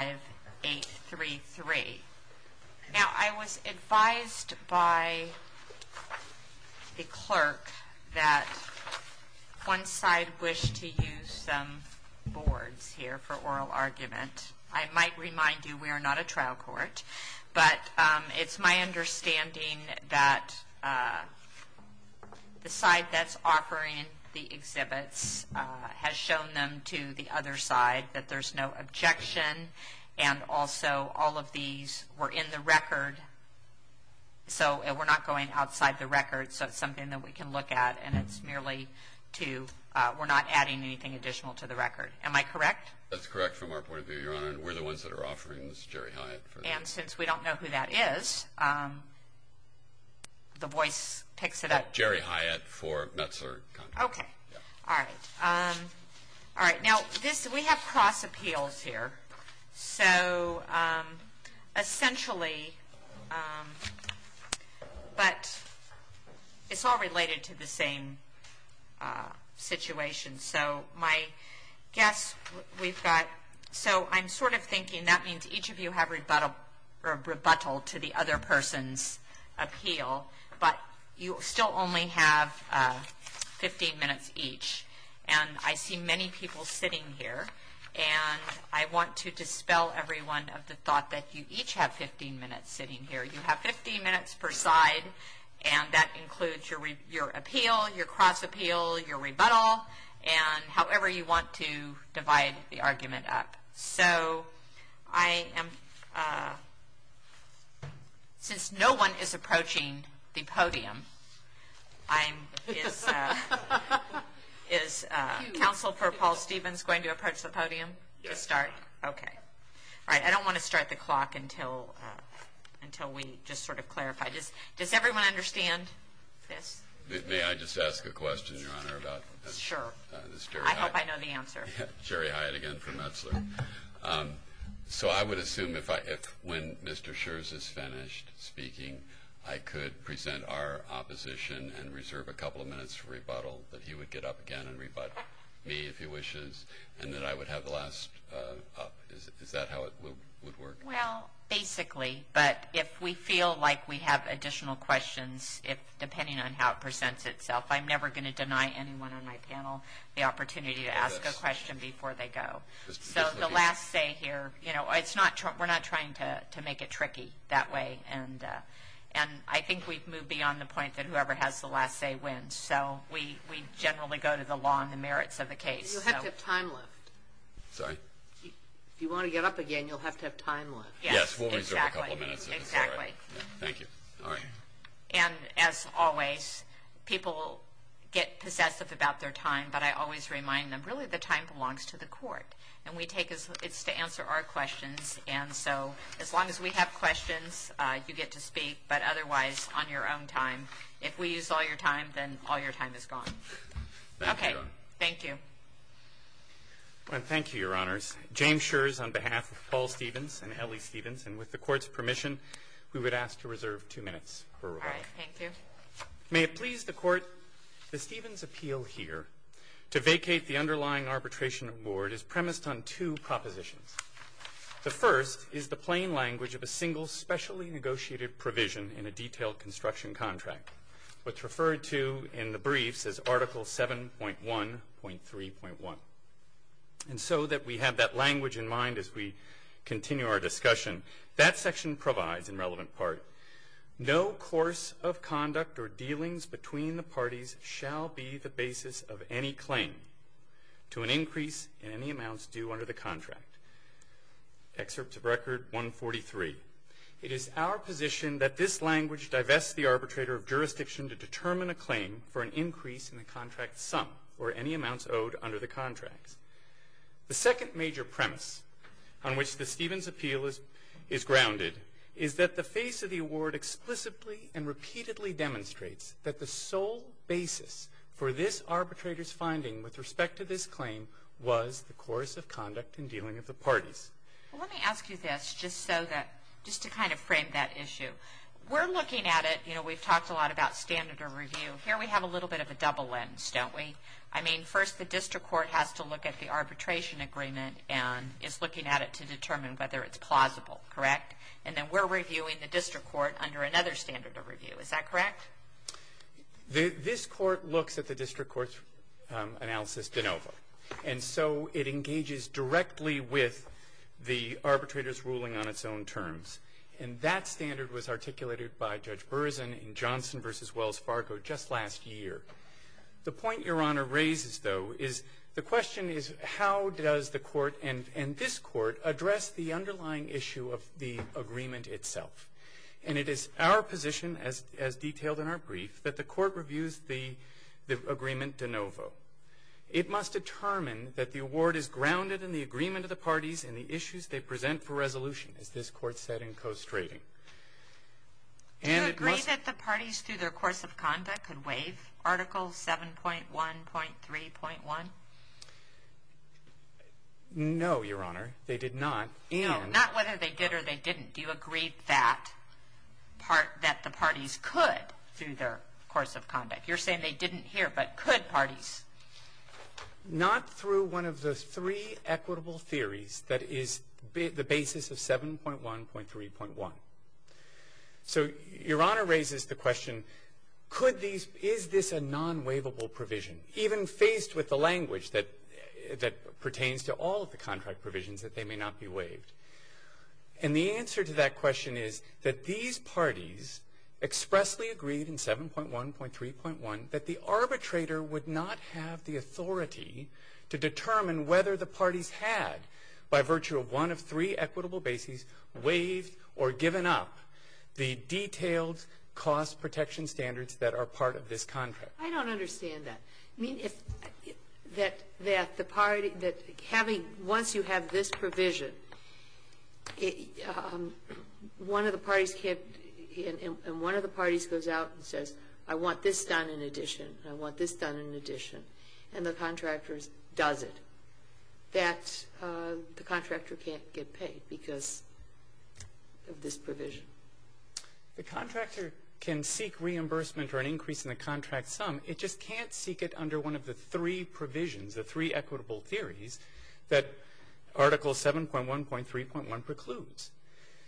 Now, I was advised by the clerk that one side wished to use some boards here for oral argument. I might remind you we are not a trial court, but it's my understanding that the side that's And also, all of these were in the record, so we're not going outside the record. So it's something that we can look at, and it's merely to, we're not adding anything additional to the record. Am I correct? That's correct from our point of view, Your Honor, and we're the ones that are offering this Jerry Hyatt. And since we don't know who that is, the voice picks it up. Jerry Hyatt for Metzler Contracting. Okay. All right. All right. Now, this, we have cross appeals here. So essentially, but it's all related to the same situation. So my guess, we've got, so I'm sort of thinking that means each of you have rebuttal to the other person's appeal, but you still only have 15 minutes each. And I see many people sitting here, and I want to dispel everyone of the thought that you each have 15 minutes sitting here. You have 15 minutes per side, and that includes your appeal, your cross appeal, your rebuttal, and however you want to divide the argument up. So I am, since no one is approaching the podium, I'm, is, is Counsel for Paul Stevens going to approach the podium to start? Okay. All right. I don't want to start the clock until we just sort of clarify. Does everyone understand this? May I just ask a question, Your Honor, about this Jerry Hyatt? Sure. I hope I know the answer. Jerry Hyatt again from Metzler. So I would assume if I, if when Mr. Scherz is finished speaking, I could present our opposition and reserve a couple of minutes for rebuttal, that he would get up again and rebut me if he wishes, and that I would have the last up. Is that how it would work? Well, basically. But if we feel like we have additional questions, if, depending on how it presents itself, I'm never going to deny anyone on my panel the opportunity to ask a question before they go. So the last say here, you know, it's not, we're not trying to, to make it tricky that way. And, and I think we've moved beyond the point that whoever has the last say wins. So we, we generally go to the long, the merits of the case. You'll have to have time left. Sorry? If you want to get up again, you'll have to have time left. Yes. Exactly. We'll reserve a couple of minutes if it's all right. Thank you. All right. And as always, people get possessive about their time, but I always remind them, really the time belongs to the court. And we take as, it's to answer our questions. And so, as long as we have questions, you get to speak. But otherwise, on your own time, if we use all your time, then all your time is gone. Okay. Thank you. Well, thank you, Your Honors. James Schurz on behalf of Paul Stevens and Ellie Stevens. And with the court's permission, we would ask to reserve two minutes for rebuttal. All right. Thank you. May it please the court that Stevens' appeal here to vacate the underlying arbitration award is premised on two propositions. The first is the plain language of a single, specially negotiated provision in a detailed construction contract, which referred to in the briefs as Article 7.1.3.1. And so that we have that language in mind as we continue our discussion, that section provides, in relevant part, no course of conduct or dealings between the parties shall be the basis of any claim to an increase in any amounts due under the contract. Excerpt of record 143. It is our position that this language divests the arbitrator of jurisdiction to determine a claim for an increase in the contract sum or any amounts owed under the contracts. The second major premise on which the Stevens' appeal is grounded is that the face of the award explicitly and repeatedly demonstrates that the sole basis for this arbitrator's finding with respect to this claim was the course of conduct and dealing of the parties. Well, let me ask you this, just so that, just to kind of frame that issue. We're looking at it, you know, we've talked a lot about standard of review. Here we have a little bit of a double lens, don't we? I mean, first the district court has to look at the arbitration agreement and is looking at it to determine whether it's plausible, correct? And then we're reviewing the district court under another standard of review. Is that correct? This court looks at the district court's analysis de novo. And so it engages directly with the arbitrator's ruling on its own terms. And that standard was articulated by Judge Berzin in Johnson v. Wells Fargo just last year. The point Your Honor raises, though, is the question is how does the court and this court address the underlying issue of the agreement itself? And it is our position, as detailed in our brief, that the court reviews the agreement de novo. It must determine that the award is grounded in the agreement of the parties and the issues they present for resolution, as this court said in co-strating. And it must Do you agree that the parties through their course of conduct could waive Article 7.1.3.1? No, Your Honor, they did not. No, not whether they did or they didn't. Do you agree that the parties could through their course of conduct? You're saying they didn't here, but could parties? Not through one of the three equitable theories that is the basis of 7.1.3.1. So Your Honor raises the question, could these, is this a non-waivable provision? Even faced with the language that pertains to all of the contract provisions, that they may not be waived. And the answer to that question is that these parties expressly agreed in 7.1.3.1 that the arbitrator would not have the authority to determine whether the parties had, by virtue of one of three equitable bases, waived or given up the detailed cost protection standards that are part of this contract. I don't understand that. I mean, if that the party, that having, once you have this provision, one of the parties can't, and one of the parties goes out and says, I want this done in addition and I want this done in addition, and the contractor does it, that the contractor can't get paid because of this provision. The contractor can seek reimbursement for an increase in the contract sum. It just can't seek it under one of the three provisions, the three equitable theories, that Article 7.1.3.1 precludes.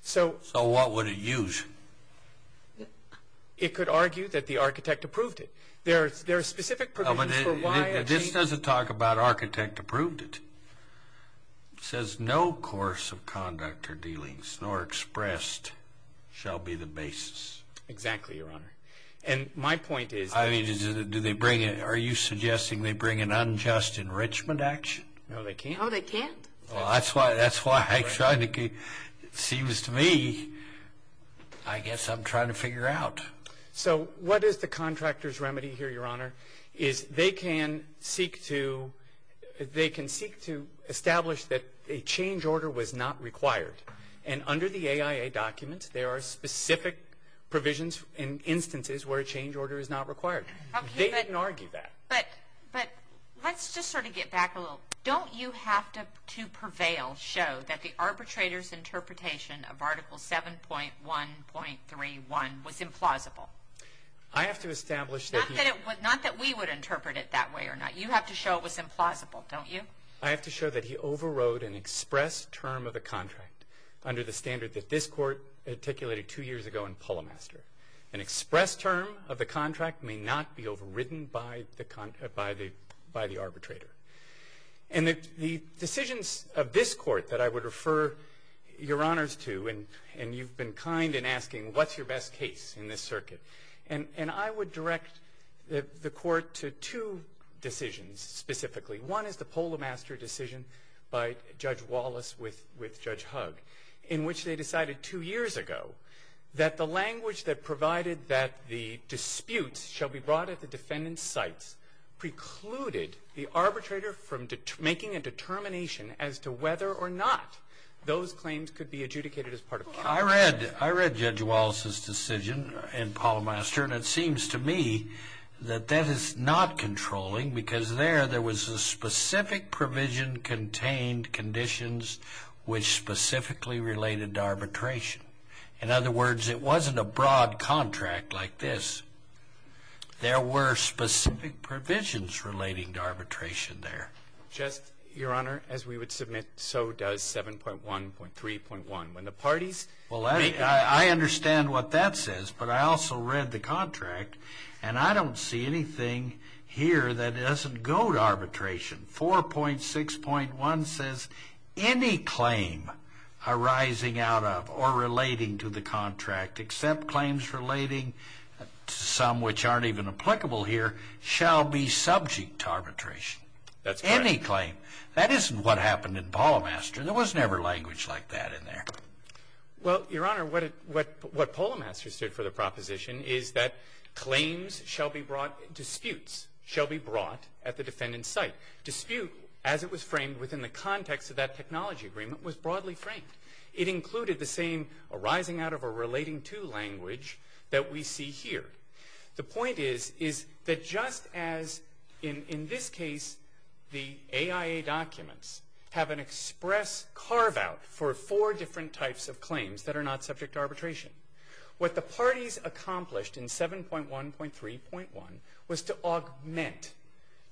So. So what would it use? It could argue that the architect approved it. There are specific provisions for why. This doesn't talk about architect approved it. It says, no course of conduct or dealings nor expressed shall be the basis. Exactly, Your Honor. And my point is. I mean, do they bring in, are you suggesting they bring in unjust enrichment action? No, they can't. Oh, they can't? Well, that's why, that's why I tried to, it seems to me, I guess I'm trying to figure out. So what is the contractor's remedy here, Your Honor? Is they can seek to, they can seek to establish that a change order was not required. And under the AIA documents, there are specific provisions in instances where a change order is not required. They can argue that. But, but, let's just sort of get back a little. Don't you have to, to prevail, show that the arbitrator's interpretation of Article 7.1.31 was implausible? I have to establish that he. Not that it, not that we would interpret it that way or not. You have to show it was implausible, don't you? I have to show that he overrode an express term of the contract under the standard that this court articulated two years ago in Pullmaster. An express term of the contract may not be overridden by the, by the arbitrator. And the, the decisions of this court that I would refer your honors to, and, and you've been kind in asking, what's your best case in this circuit? And, and I would direct the, the court to two decisions specifically. One is the Pullmaster decision by Judge Wallace with, with Judge Hug. In which they decided two years ago that the language that provided that the arbitrator from making a determination as to whether or not those claims could be adjudicated as part of counsel. I read, I read Judge Wallace's decision in Pullmaster. And it seems to me that that is not controlling. Because there, there was a specific provision contained conditions which specifically related to arbitration. In other words, it wasn't a broad contract like this. There were specific provisions relating to arbitration there. Just, your honor, as we would submit, so does 7.1.3.1. When the parties. Well, I, I, I understand what that says. But I also read the contract. And I don't see anything here that doesn't go to arbitration. 4.6.1 says any claim arising out of or relating to the contract. Except claims relating to some which aren't even applicable here. Shall be subject to arbitration. That's correct. Any claim. That isn't what happened in Pullmaster. There was never language like that in there. Well, your honor, what it, what, what Pullmaster stood for the proposition is that claims shall be brought, disputes shall be brought at the defendant's site. Dispute, as it was framed within the context of that technology agreement, was broadly framed. It included the same arising out of or relating to language that we see here. The point is, is that just as in, in this case, the AIA documents have an express carve out for four different types of claims that are not subject to arbitration. What the parties accomplished in 7.1.3.1 was to augment,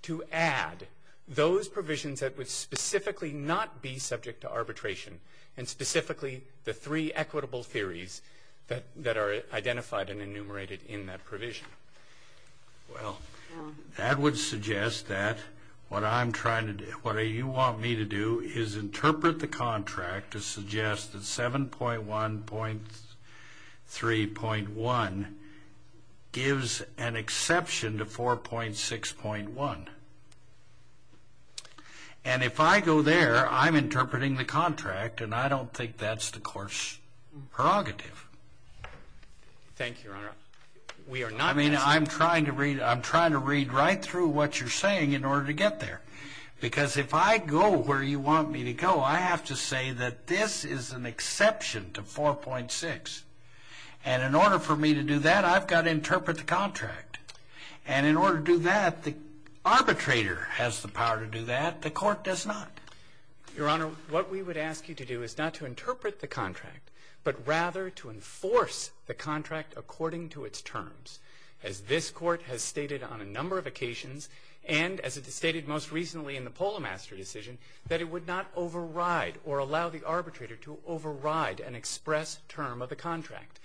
to add those provisions that would specifically not be subject to arbitration. And specifically, the three equitable theories that, that are identified and enumerated in that provision. Well, that would suggest that what I'm trying to do, what you want me to do is interpret the contract to suggest that 7.1.3.1 gives an exception to 4.6.1. And if I go there, I'm interpreting the contract, and I don't think that's the court's prerogative. Thank you, Your Honor. We are not. I mean, I'm trying to read, I'm trying to read right through what you're saying in order to get there, because if I go where you want me to go, I have to say that this is an exception to 4.6, and in order for me to do that, I've got to interpret the contract, and in order to do that, the arbitrator has the power to do that. The court does not. Your Honor, what we would ask you to do is not to interpret the contract, but rather to enforce the contract according to its terms. As this court has stated on a number of occasions, and as it stated most recently in the Polo Master decision, that it would not override or allow the arbitrator to override an express term of the contract.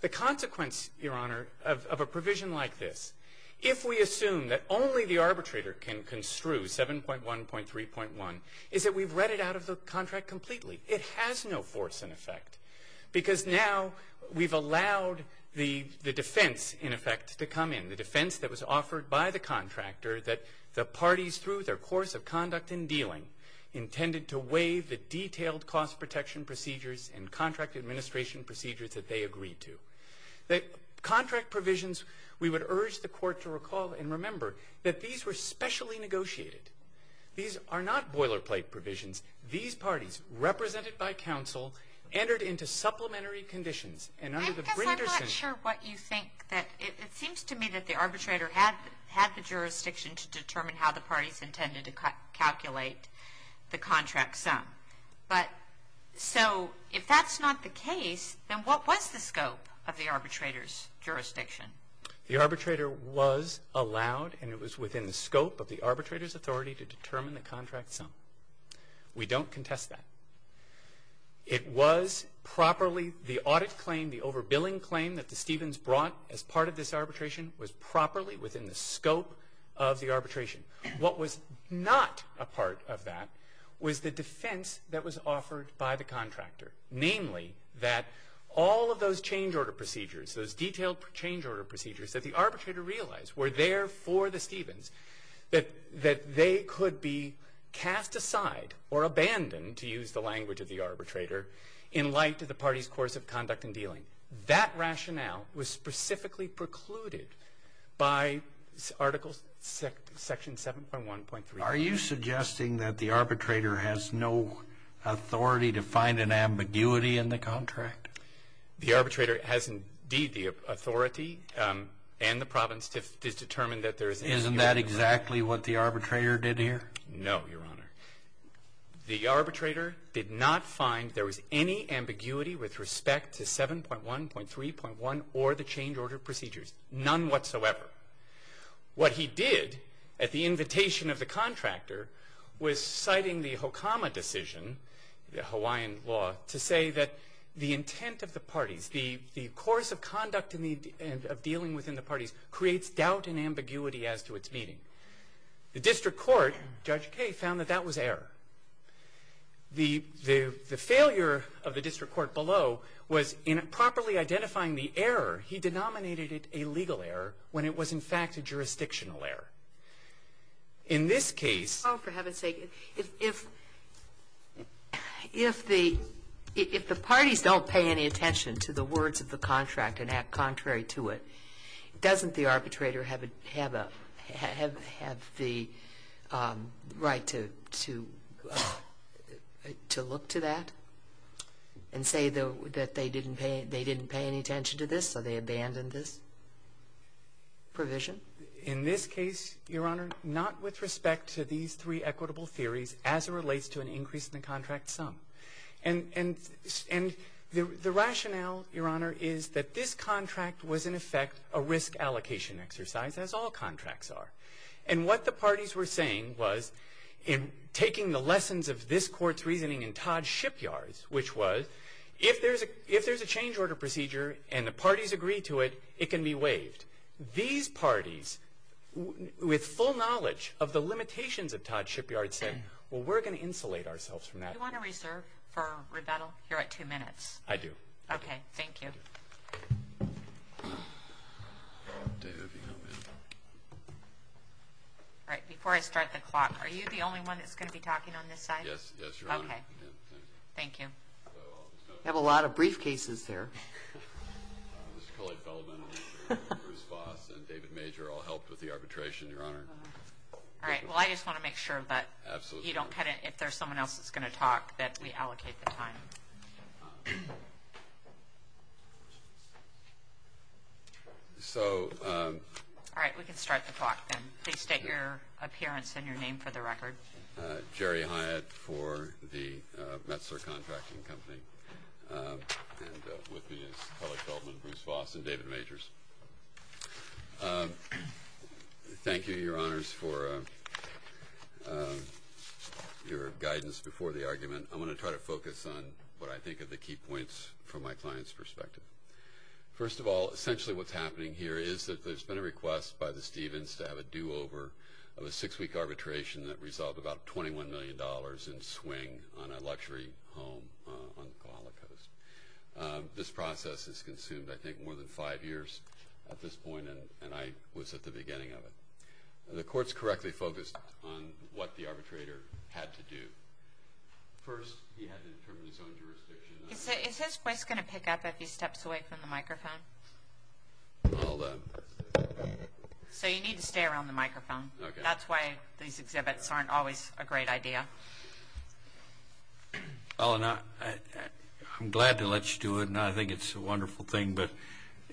The consequence, Your Honor, of a provision like this, if we assume that only the arbitrator can construe 7.1.3.1, is that we've read it out of the contract completely. It has no force in effect. Because now we've allowed the defense, in effect, to come in. The defense that was offered by the contractor that the parties, through their course of conduct and dealing, intended to waive the detailed cost protection procedures and contract administration procedures that they agreed to. The contract provisions, we would urge the court to recall and remember that these were specially negotiated. These are not boilerplate provisions. These parties, represented by counsel, entered into supplementary conditions. And under the- Because I'm not sure what you think that, it seems to me that the arbitrator had the jurisdiction to determine how the parties intended to calculate the contract sum. But, so, if that's not the case, then what was the scope of the arbitrator's jurisdiction? The arbitrator was allowed, and it was within the scope of the arbitrator's authority to determine the contract sum. We don't contest that. It was properly, the audit claim, the overbilling claim that the Stevens brought as part of this arbitration was properly within the scope of the arbitration. What was not a part of that was the defense that was offered by the contractor. Namely, that all of those change order procedures, those detailed change order procedures that the arbitrator realized were there for the Stevens, that they could be cast aside or abandoned, to use the language of the arbitrator, in light of the party's course of conduct and dealing. That rationale was specifically precluded by articles section 7.1.3. Are you suggesting that the arbitrator has no authority to find an ambiguity in the contract? The arbitrator has indeed the authority and the province to determine that there is. Isn't that exactly what the arbitrator did here? No, your honor. The arbitrator did not find there was any ambiguity with respect to 7.1.3.1 or the change order procedures, none whatsoever. What he did, at the invitation of the contractor, was citing the Hokama decision, the Hawaiian law, to say that the intent of the parties, the course of conduct of dealing within the parties, creates doubt and ambiguity as to its meaning. The district court, Judge Kaye, found that that was error. The failure of the district court below was in properly identifying the error. He denominated it a legal error when it was, in fact, a jurisdictional error. In this case- Oh, for heaven's sake. If the parties don't pay any attention to the words of the contract and doesn't the arbitrator have the right to look to that? And say that they didn't pay any attention to this, so they abandoned this provision? In this case, your honor, not with respect to these three equitable theories as it relates to an increase in the contract sum. And the rationale, your honor, is that this contract was, in effect, a risk allocation exercise, as all contracts are. And what the parties were saying was, in taking the lessons of this court's reasoning in Todd Shipyard's, which was, if there's a change order procedure and the parties agree to it, it can be waived. These parties, with full knowledge of the limitations of Todd Shipyard, said, well, we're going to insulate ourselves from that. Do you want to reserve for rebuttal? You're at two minutes. I do. Okay, thank you. All right, before I start the clock, are you the only one that's going to be talking on this side? Yes, yes, your honor. Okay. Thank you. Have a lot of briefcases there. Mr. Collette Feldman, Bruce Voss, and David Major all helped with the arbitration, your honor. All right, well, I just want to make sure that- Absolutely. You don't kind of, if there's someone else that's going to talk, that we allocate the time. So- All right, we can start the clock then. Please state your appearance and your name for the record. Jerry Hyatt for the Metzler Contracting Company. And with me is Collette Feldman, Bruce Voss, and David Majors. Thank you, your honors, for your guidance before the argument. I'm going to try to focus on what I think are the key points from my client's perspective. First of all, essentially what's happening here is that there's been a request by the Stevens to have a do-over of a six-week arbitration that resulted about $21 million in swing on a luxury home on the Koala Coast. This process has consumed, I think, more than five years at this point, and I was at the beginning of it. The court's correctly focused on what the arbitrator had to do. First, he had to determine his own jurisdiction. Is his voice going to pick up if he steps away from the microphone? I'll- So you need to stay around the microphone. Okay. That's why these exhibits aren't always a great idea. Well, and I'm glad to let you do it, and I think it's a wonderful thing, but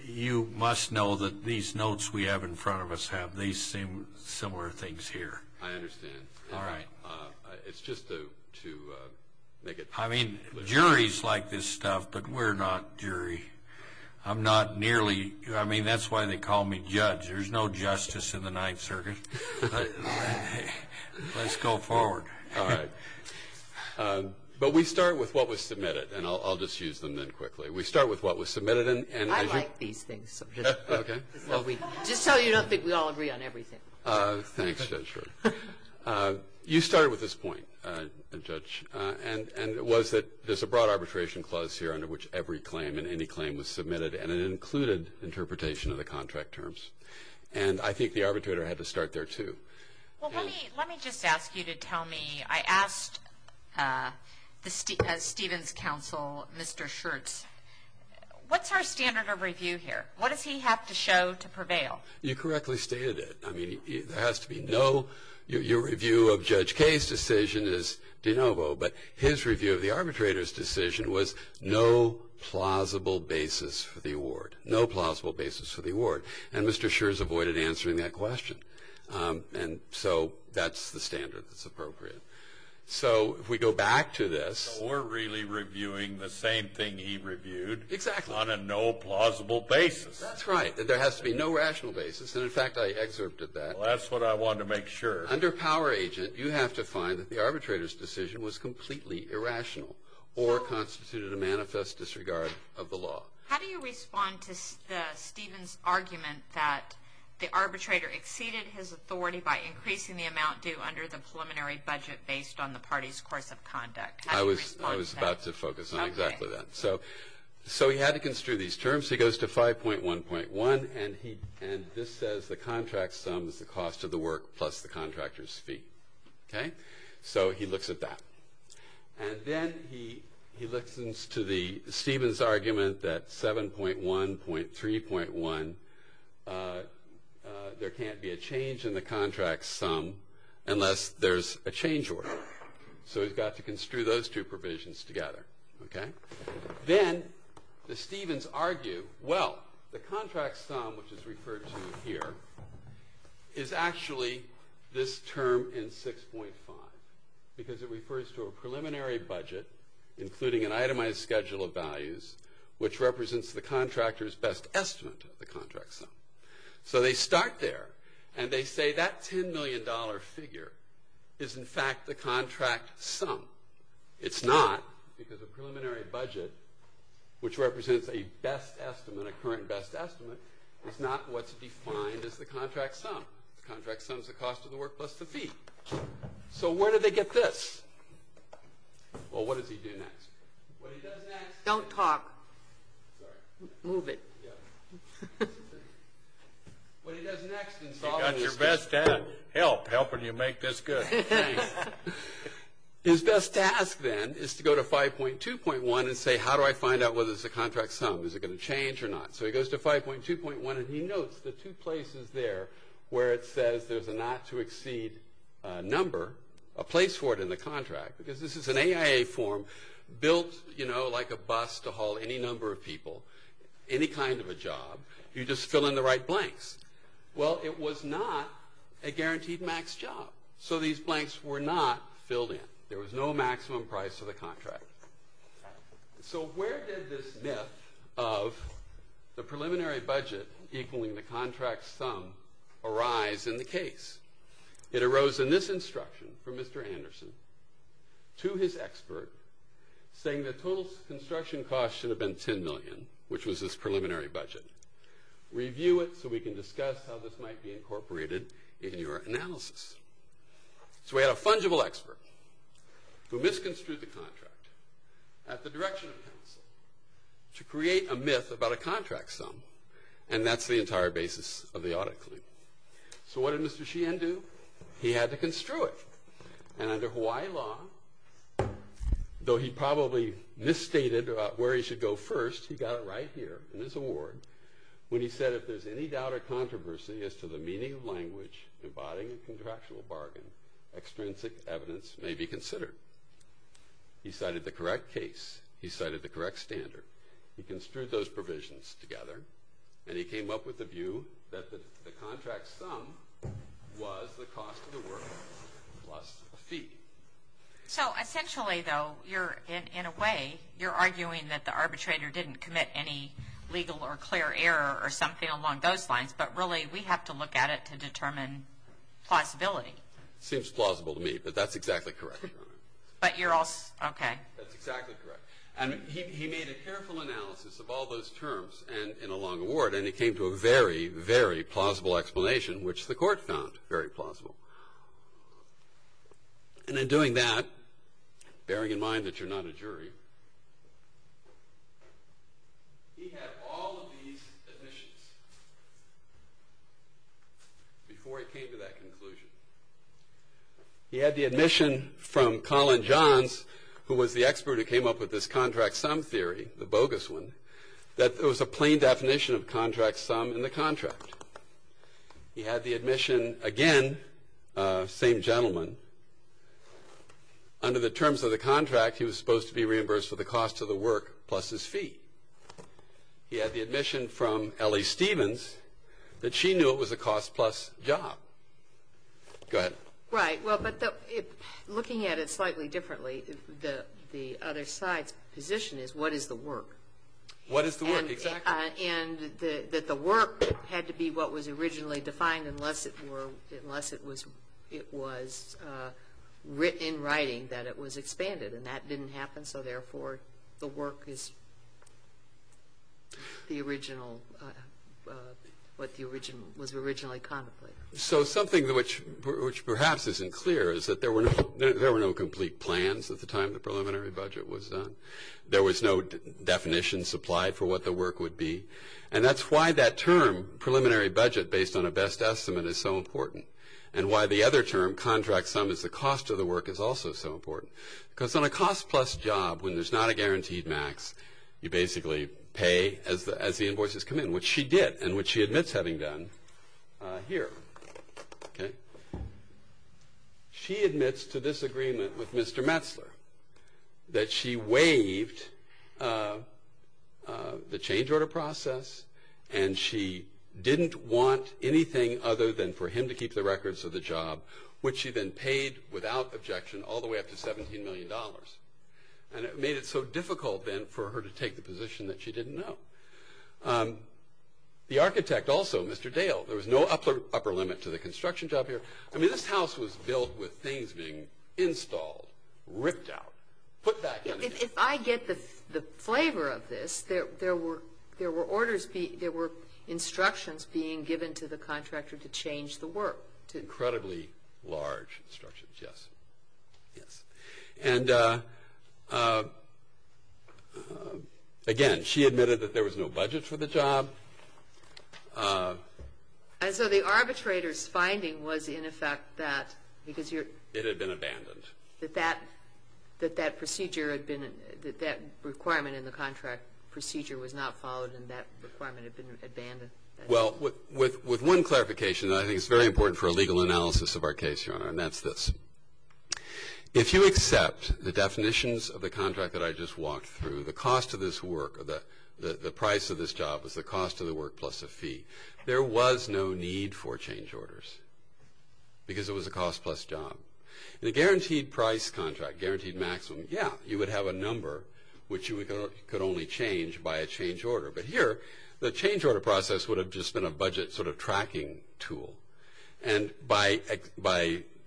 you must know that these notes we have in front of us have these similar things here. I understand. All right. It's just to make it- I mean, juries like this stuff, but we're not jury. I'm not nearly- I mean, that's why they call me judge. There's no justice in the Ninth Circuit, but let's go forward. All right. But we start with what was submitted, and I'll just use them then quickly. We start with what was submitted, and- I like these things. Okay. Just so you don't think we all agree on everything. Thanks, Judge. You started with this point, Judge, and it was that there's a broad arbitration clause here under which every claim and any claim was submitted, and it included interpretation of the contract terms. And I think the arbitrator had to start there, too. Well, let me just ask you to tell me- I asked the Stevens counsel, Mr. Schertz, what's our standard of review here? What does he have to show to prevail? You correctly stated it. I mean, there has to be no- your review of Judge Kaye's decision is de novo, but his review of the arbitrator's decision was no plausible basis for the award, no plausible basis for the award. And Mr. Schertz avoided answering that question. And so that's the standard that's appropriate. So if we go back to this- So we're really reviewing the same thing he reviewed- Exactly. On a no plausible basis. That's right. There has to be no rational basis, and in fact, I excerpted that. Well, that's what I wanted to make sure. Under power agent, you have to find that the arbitrator's decision was completely irrational or constituted a manifest disregard of the law. How do you respond to the Stevens argument that the arbitrator exceeded his authority by increasing the amount due under the preliminary budget based on the party's course of conduct? How do you respond to that? I was about to focus on exactly that. So he had to construe these terms. He goes to 5.1.1, and he- and this says the contract sums the cost of the work plus the contractor's fee, okay? So he looks at that. And then he listens to the Stevens argument that 7.1.3.1, there can't be a change in the contract sum unless there's a change order. So he's got to construe those two provisions together, okay? Then the Stevens argue, well, the contract sum, which is referred to here, is actually this term in 6.5. Because it refers to a preliminary budget, including an itemized schedule of values, which represents the contractor's best estimate of the contract sum. So they start there, and they say that $10 million figure is, in fact, the contract sum. It's not, because a preliminary budget, which represents a best estimate, a current best estimate, is not what's defined as the contract sum. The contract sum is the cost of the work plus the fee. So where do they get this? Well, what does he do next? What he does next- Don't talk. Sorry. Move it. Yeah. What he does next- You got your best dad. Help. Helping you make this good. His best task, then, is to go to 5.2.1 and say, how do I find out whether it's a contract sum? Is it going to change or not? So he goes to 5.2.1, and he notes the two places there where it says there's a not-to-exceed number, a place for it in the contract. Because this is an AIA form built like a bus to haul any number of people, any kind of a job, you just fill in the right blanks. Well, it was not a guaranteed max job, so these blanks were not filled in. There was no maximum price of the contract. So where did this myth of the preliminary budget equaling the contract sum arise in the case? It arose in this instruction from Mr. Anderson to his expert, saying the total construction cost should have been $10 million, which was his preliminary budget. Review it so we can discuss how this might be incorporated in your analysis. So we had a fungible expert who misconstrued the contract at the direction of counsel to create a myth about a contract sum, and that's the entire basis of the audit claim. So what did Mr. Sheehan do? He had to construe it, and under Hawaii law, though he probably misstated about where he should go first, he got it right here in this award when he said, if there's any doubt or controversy as to the meaning of language embodying a contractual bargain, extrinsic evidence may be considered. He cited the correct case. He cited the correct standard. He construed those provisions together, and he came up with the view that the contract sum was the cost of the work plus the fee. So essentially, though, in a way, you're arguing that the arbitrator didn't commit any legal or clear error or something along those lines, but really, we have to look at it to determine plausibility. Seems plausible to me, but that's exactly correct, Your Honor. But you're also, okay. That's exactly correct. And he made a careful analysis of all those terms in a long award, and it came to a very, very plausible explanation, which the court found very plausible. And in doing that, bearing in mind that you're not a jury, he had all of these admissions before he came to that conclusion. He had the admission from Colin Johns, who was the expert who came up with this contract sum theory, the bogus one, that there was a plain definition of contract sum in the contract. He had the admission, again, same gentleman, under the terms of the contract, he was supposed to be reimbursed for the cost of the work plus his fee. He had the admission from Ellie Stevens that she knew it was a cost plus job. Go ahead. Right. Well, but looking at it slightly differently, the other side's position is what is the work? What is the work? Exactly. And that the work had to be what was originally defined unless it were unless it was written in writing that it was expanded. And that didn't happen, so therefore, the work is the original, what was originally contemplated. So something which perhaps isn't clear is that there were no complete plans at the time the preliminary budget was done. There was no definition supplied for what the work would be. And that's why that term, preliminary budget, based on a best estimate is so important. And why the other term, contract sum, is the cost of the work is also so important. Because on a cost plus job, when there's not a guaranteed max, you basically pay as the invoices come in, which she did, and which she admits having done here, okay? She admits to this agreement with Mr. Metzler that she waived the change order process, and she didn't want anything other than for him to keep the records of the job, which she then paid without objection all the way back to $17 million, and it made it so difficult then for her to take the position that she didn't know. The architect also, Mr. Dale, there was no upper limit to the construction job here. I mean, this house was built with things being installed, ripped out, put back. If I get the flavor of this, there were orders, there were instructions being given to the contractor to change the work. Incredibly large instructions, yes. And again, she admitted that there was no budget for the job. And so the arbitrator's finding was, in effect, that because you're- It had been abandoned. That that procedure had been, that that requirement in the contract Well, with one clarification that I think is very important for a legal analysis of our case, Your Honor, and that's this. If you accept the definitions of the contract that I just walked through, the cost of this work, the price of this job is the cost of the work plus a fee. There was no need for change orders, because it was a cost plus job. In a guaranteed price contract, guaranteed maximum, yeah, you would have a number which you could only change by a change order. But here, the change order process would have just been a budget sort of tracking tool. And by checking off-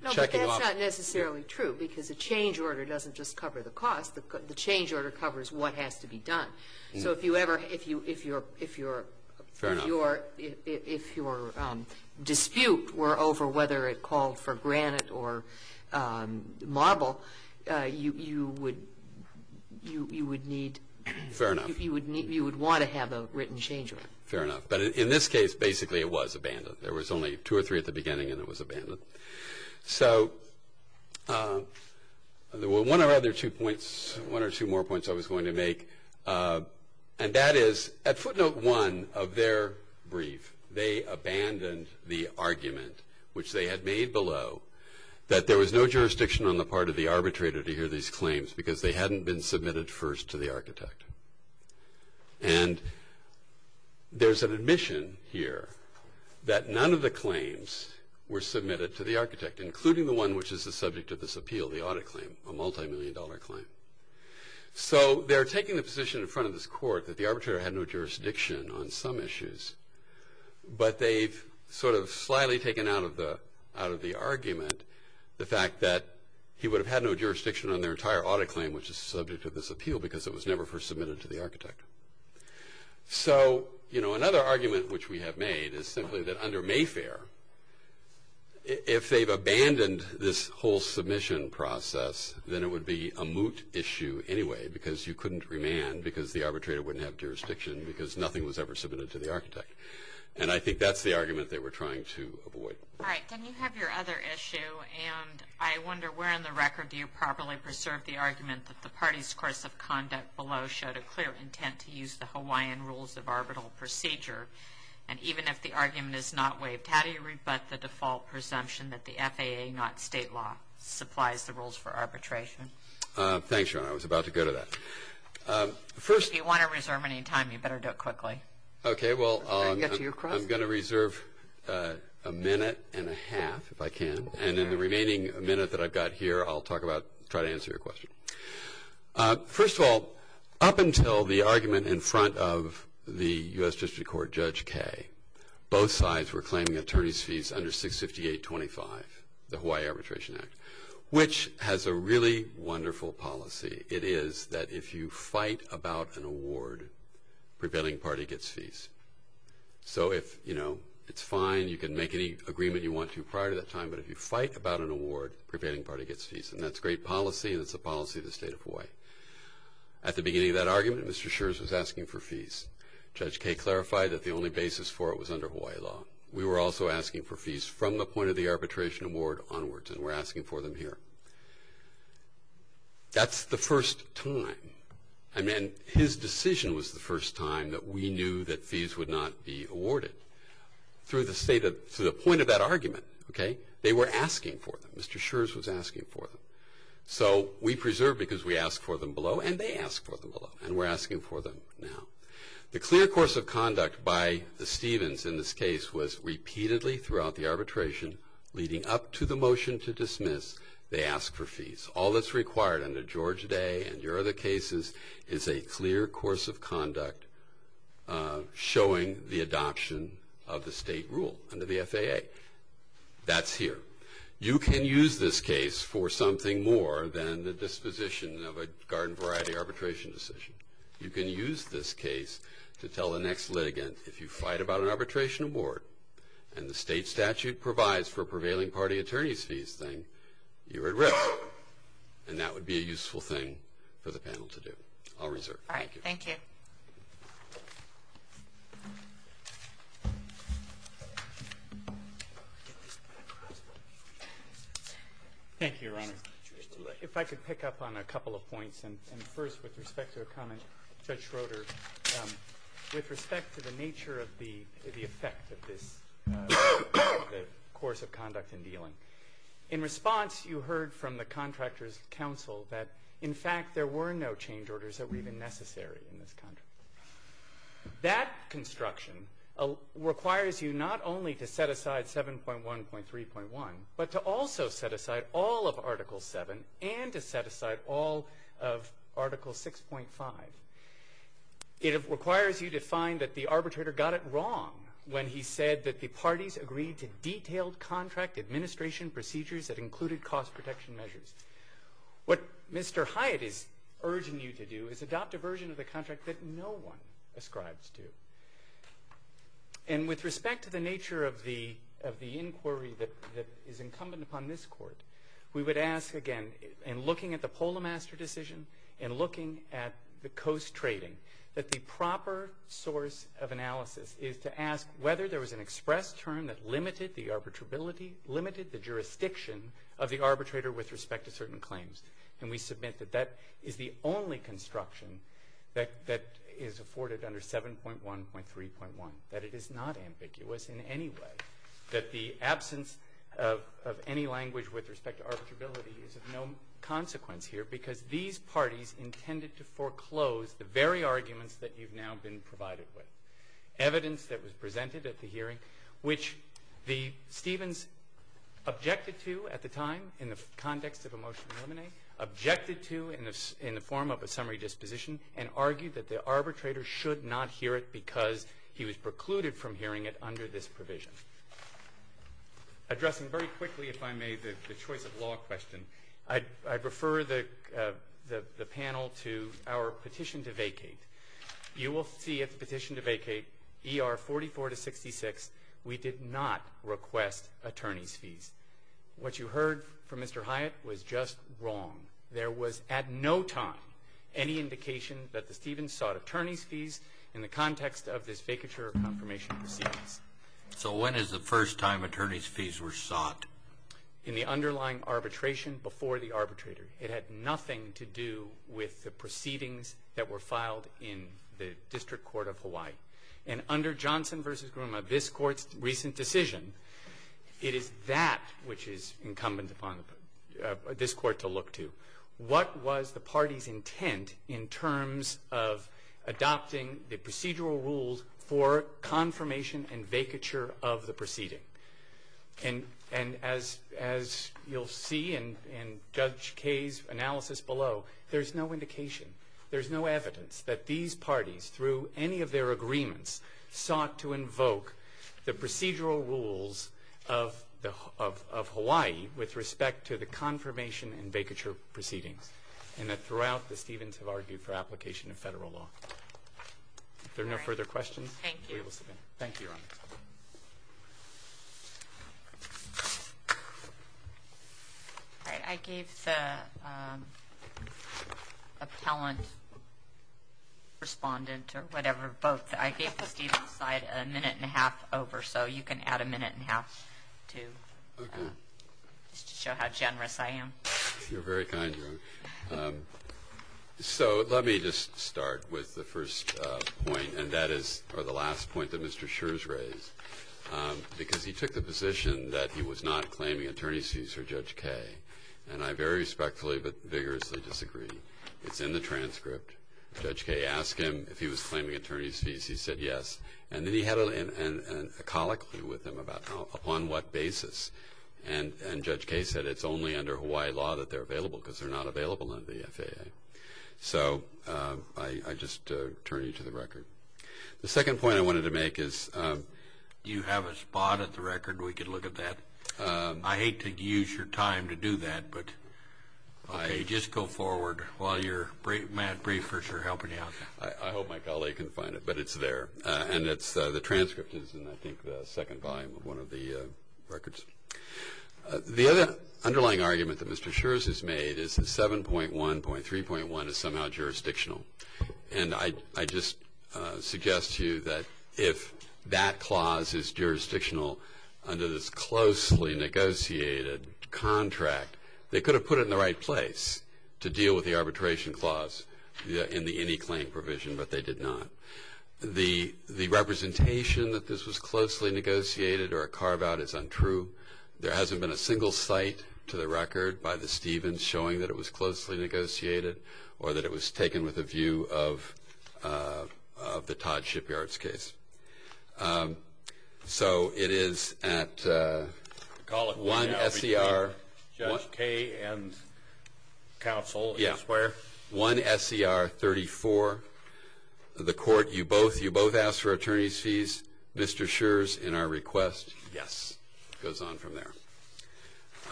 No, but that's not necessarily true, because a change order doesn't just cover the cost. The change order covers what has to be done. So if you ever, if you're- Fair enough. If your dispute were over whether it called for granite or marble, you would need- Fair enough. You would want to have a written change order. Fair enough. But in this case, basically, it was abandoned. There was only two or three at the beginning, and it was abandoned. So, there were one or other two points, one or two more points I was going to make. And that is, at footnote one of their brief, they abandoned the argument, which they had made below, that there was no jurisdiction on the part of the arbitrator to hear these claims, because they hadn't been submitted first to the architect. And there's an admission here that none of the claims were submitted to the architect, including the one which is the subject of this appeal, the audit claim. A multi-million dollar claim. So, they're taking the position in front of this court that the arbitrator had no jurisdiction on some issues. But they've sort of slyly taken out of the argument the fact that he would have had no jurisdiction on their entire audit claim, which is the subject of this appeal, because it was never first submitted to the architect. So, another argument which we have made is simply that under Mayfair, if they've abandoned this whole submission process, then it would be a moot issue anyway, because you couldn't remand, because the arbitrator wouldn't have jurisdiction, because nothing was ever submitted to the architect. And I think that's the argument they were trying to avoid. All right, then you have your other issue, and I wonder, where in the record do you properly preserve the argument that the party's course of conduct below showed a clear intent to use the Hawaiian rules of arbitral procedure? And even if the argument is not waived, how do you rebut the default presumption that the FAA, not state law, supplies the rules for arbitration? Thanks, Sharon, I was about to go to that. First- If you want to reserve any time, you better do it quickly. Okay, well- I'll get to your question. I'm going to reserve a minute and a half, if I can. And in the remaining minute that I've got here, I'll try to answer your question. First of all, up until the argument in front of the US District Court, Judge Kay, both sides were claiming attorney's fees under 658-25, the Hawaii Arbitration Act, which has a really wonderful policy. It is that if you fight about an award, prevailing party gets fees. So if it's fine, you can make any agreement you want to prior to that time, but if you fight about an award, prevailing party gets fees. And that's great policy, and it's the policy of the state of Hawaii. At the beginning of that argument, Mr. Scherz was asking for fees. Judge Kay clarified that the only basis for it was under Hawaii law. We were also asking for fees from the point of the arbitration award onwards, and we're asking for them here. That's the first time, I mean, his decision was the first time that we knew that fees would not be awarded. Through the state of, through the point of that argument, okay? They were asking for them, Mr. Scherz was asking for them. So we preserve because we ask for them below, and they ask for them below, and we're asking for them now. The clear course of conduct by the Stevens in this case was repeatedly throughout the arbitration leading up to the motion to dismiss, they ask for fees. All that's required under George Day and your other cases is a clear course of conduct showing the adoption of the state rule under the FAA. That's here. You can use this case for something more than the disposition of a garden variety arbitration decision. You can use this case to tell the next litigant, if you fight about an arbitration award, and the state statute provides for prevailing party attorneys fees thing, you're at risk, and that would be a useful thing for the panel to do. I'll reserve. All right, thank you. Thank you, Your Honor. If I could pick up on a couple of points, and first with respect to a comment, Judge Schroeder, with respect to the nature of the effect of this course of conduct in dealing. In response, you heard from the contractor's counsel that, in fact, there were no change orders that were even necessary in this contract. That construction requires you not only to set aside 7.1.3.1, but to also set aside all of Article 7, and to set aside all of Article 6.5. It requires you to find that the arbitrator got it wrong when he said that the parties agreed to detailed contract administration procedures that included cost protection measures. What Mr. Hyatt is urging you to do is adopt a version of the contract that no one ascribes to. And with respect to the nature of the inquiry that is incumbent upon this court, we would ask again, in looking at the Polo Master decision, and looking at the Coast Trading, that the proper source of analysis is to ask whether there was an express term that limited the arbitrability, limited the jurisdiction of the arbitrator with respect to certain claims. And we submit that that is the only construction that is afforded under 7.1.3.1. That it is not ambiguous in any way. That the absence of any language with respect to arbitrability is of no consequence here, because these parties intended to foreclose the very arguments that you've now been provided with. Evidence that was presented at the hearing, which the Stevens objected to at the time in the context of a motion to eliminate, objected to in the form of a summary disposition, and argued that the arbitrator should not hear it because he was precluded from hearing it under this provision. Addressing very quickly, if I may, the choice of law question, I'd refer the panel to our petition to vacate. You will see at the petition to vacate, ER44-66, we did not request attorney's fees. What you heard from Mr. Hyatt was just wrong. There was at no time any indication that the Stevens sought attorney's fees in the context of this vacature confirmation proceedings. So when is the first time attorney's fees were sought? In the underlying arbitration before the arbitrator. It had nothing to do with the proceedings that were filed in the District Court of Hawaii. And under Johnson v. Grouma, this court's recent decision, it is that which is incumbent upon this court to look to. What was the party's intent in terms of adopting the procedural rules for confirmation and vacature of the proceeding? And as you'll see in Judge Kaye's analysis below, there's no indication, there's no evidence that these parties, through any of their agreements, sought to invoke the procedural rules of Hawaii, with respect to the confirmation and vacature proceedings. And that throughout, the Stevens have argued for application of federal law. If there are no further questions. Thank you. Thank you. All right, I gave the appellant, respondent, or whatever, both, I gave the Stevens side a minute and a half over. So you can add a minute and a half to show how generous I am. You're very kind. So let me just start with the first point. And that is, or the last point that Mr. Schurz raised. Because he took the position that he was not claiming attorney's fees for Judge Kaye. And I very respectfully but vigorously disagree. It's in the transcript. Judge Kaye asked him if he was claiming attorney's fees. He said yes. And then he had a colloquy with him about upon what basis. And Judge Kaye said it's only under Hawaii law that they're available, because they're not available under the FAA. So I just turn you to the record. The second point I wanted to make is. You have a spot at the record? We can look at that. I hate to use your time to do that, but, okay, just go forward while your mad briefers are helping you out. I hope my colleague can find it, but it's there. And the transcript is in, I think, the second volume of one of the records. The other underlying argument that Mr. Schurz has made is that 7.1.3.1 is somehow jurisdictional. And I just suggest to you that if that clause is jurisdictional under this closely negotiated contract, they could have put it in the right place to deal with the arbitration clause in the any claim provision, but they did not. The representation that this was closely negotiated or a carve out is untrue. There hasn't been a single site to the record by the Stevens showing that it was taken with a view of the Todd Shipyard's case. So it is at one SCR- Call it one LBJ, Judge K and counsel, I swear. One SCR 34, the court, you both asked for attorney's fees. Mr. Schurz, in our request. Yes. Goes on from there.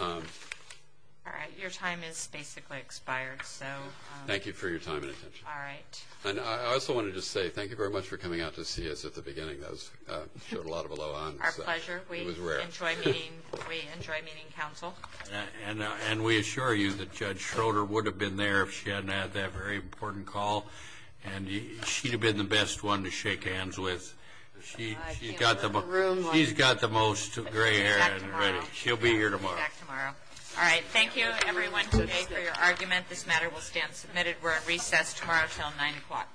All right, your time is basically expired, so. Thank you for your time and attention. All right. And I also wanted to say, thank you very much for coming out to see us at the beginning. That was, showed a lot of aloha. Our pleasure. We enjoy meeting, we enjoy meeting counsel. And we assure you that Judge Schroeder would have been there if she hadn't had that very important call. And she'd have been the best one to shake hands with. She's got the most gray hair, but she'll be here tomorrow. All right, thank you everyone today for your argument. This matter will stand submitted. We're at recess tomorrow till 9 o'clock. All rise.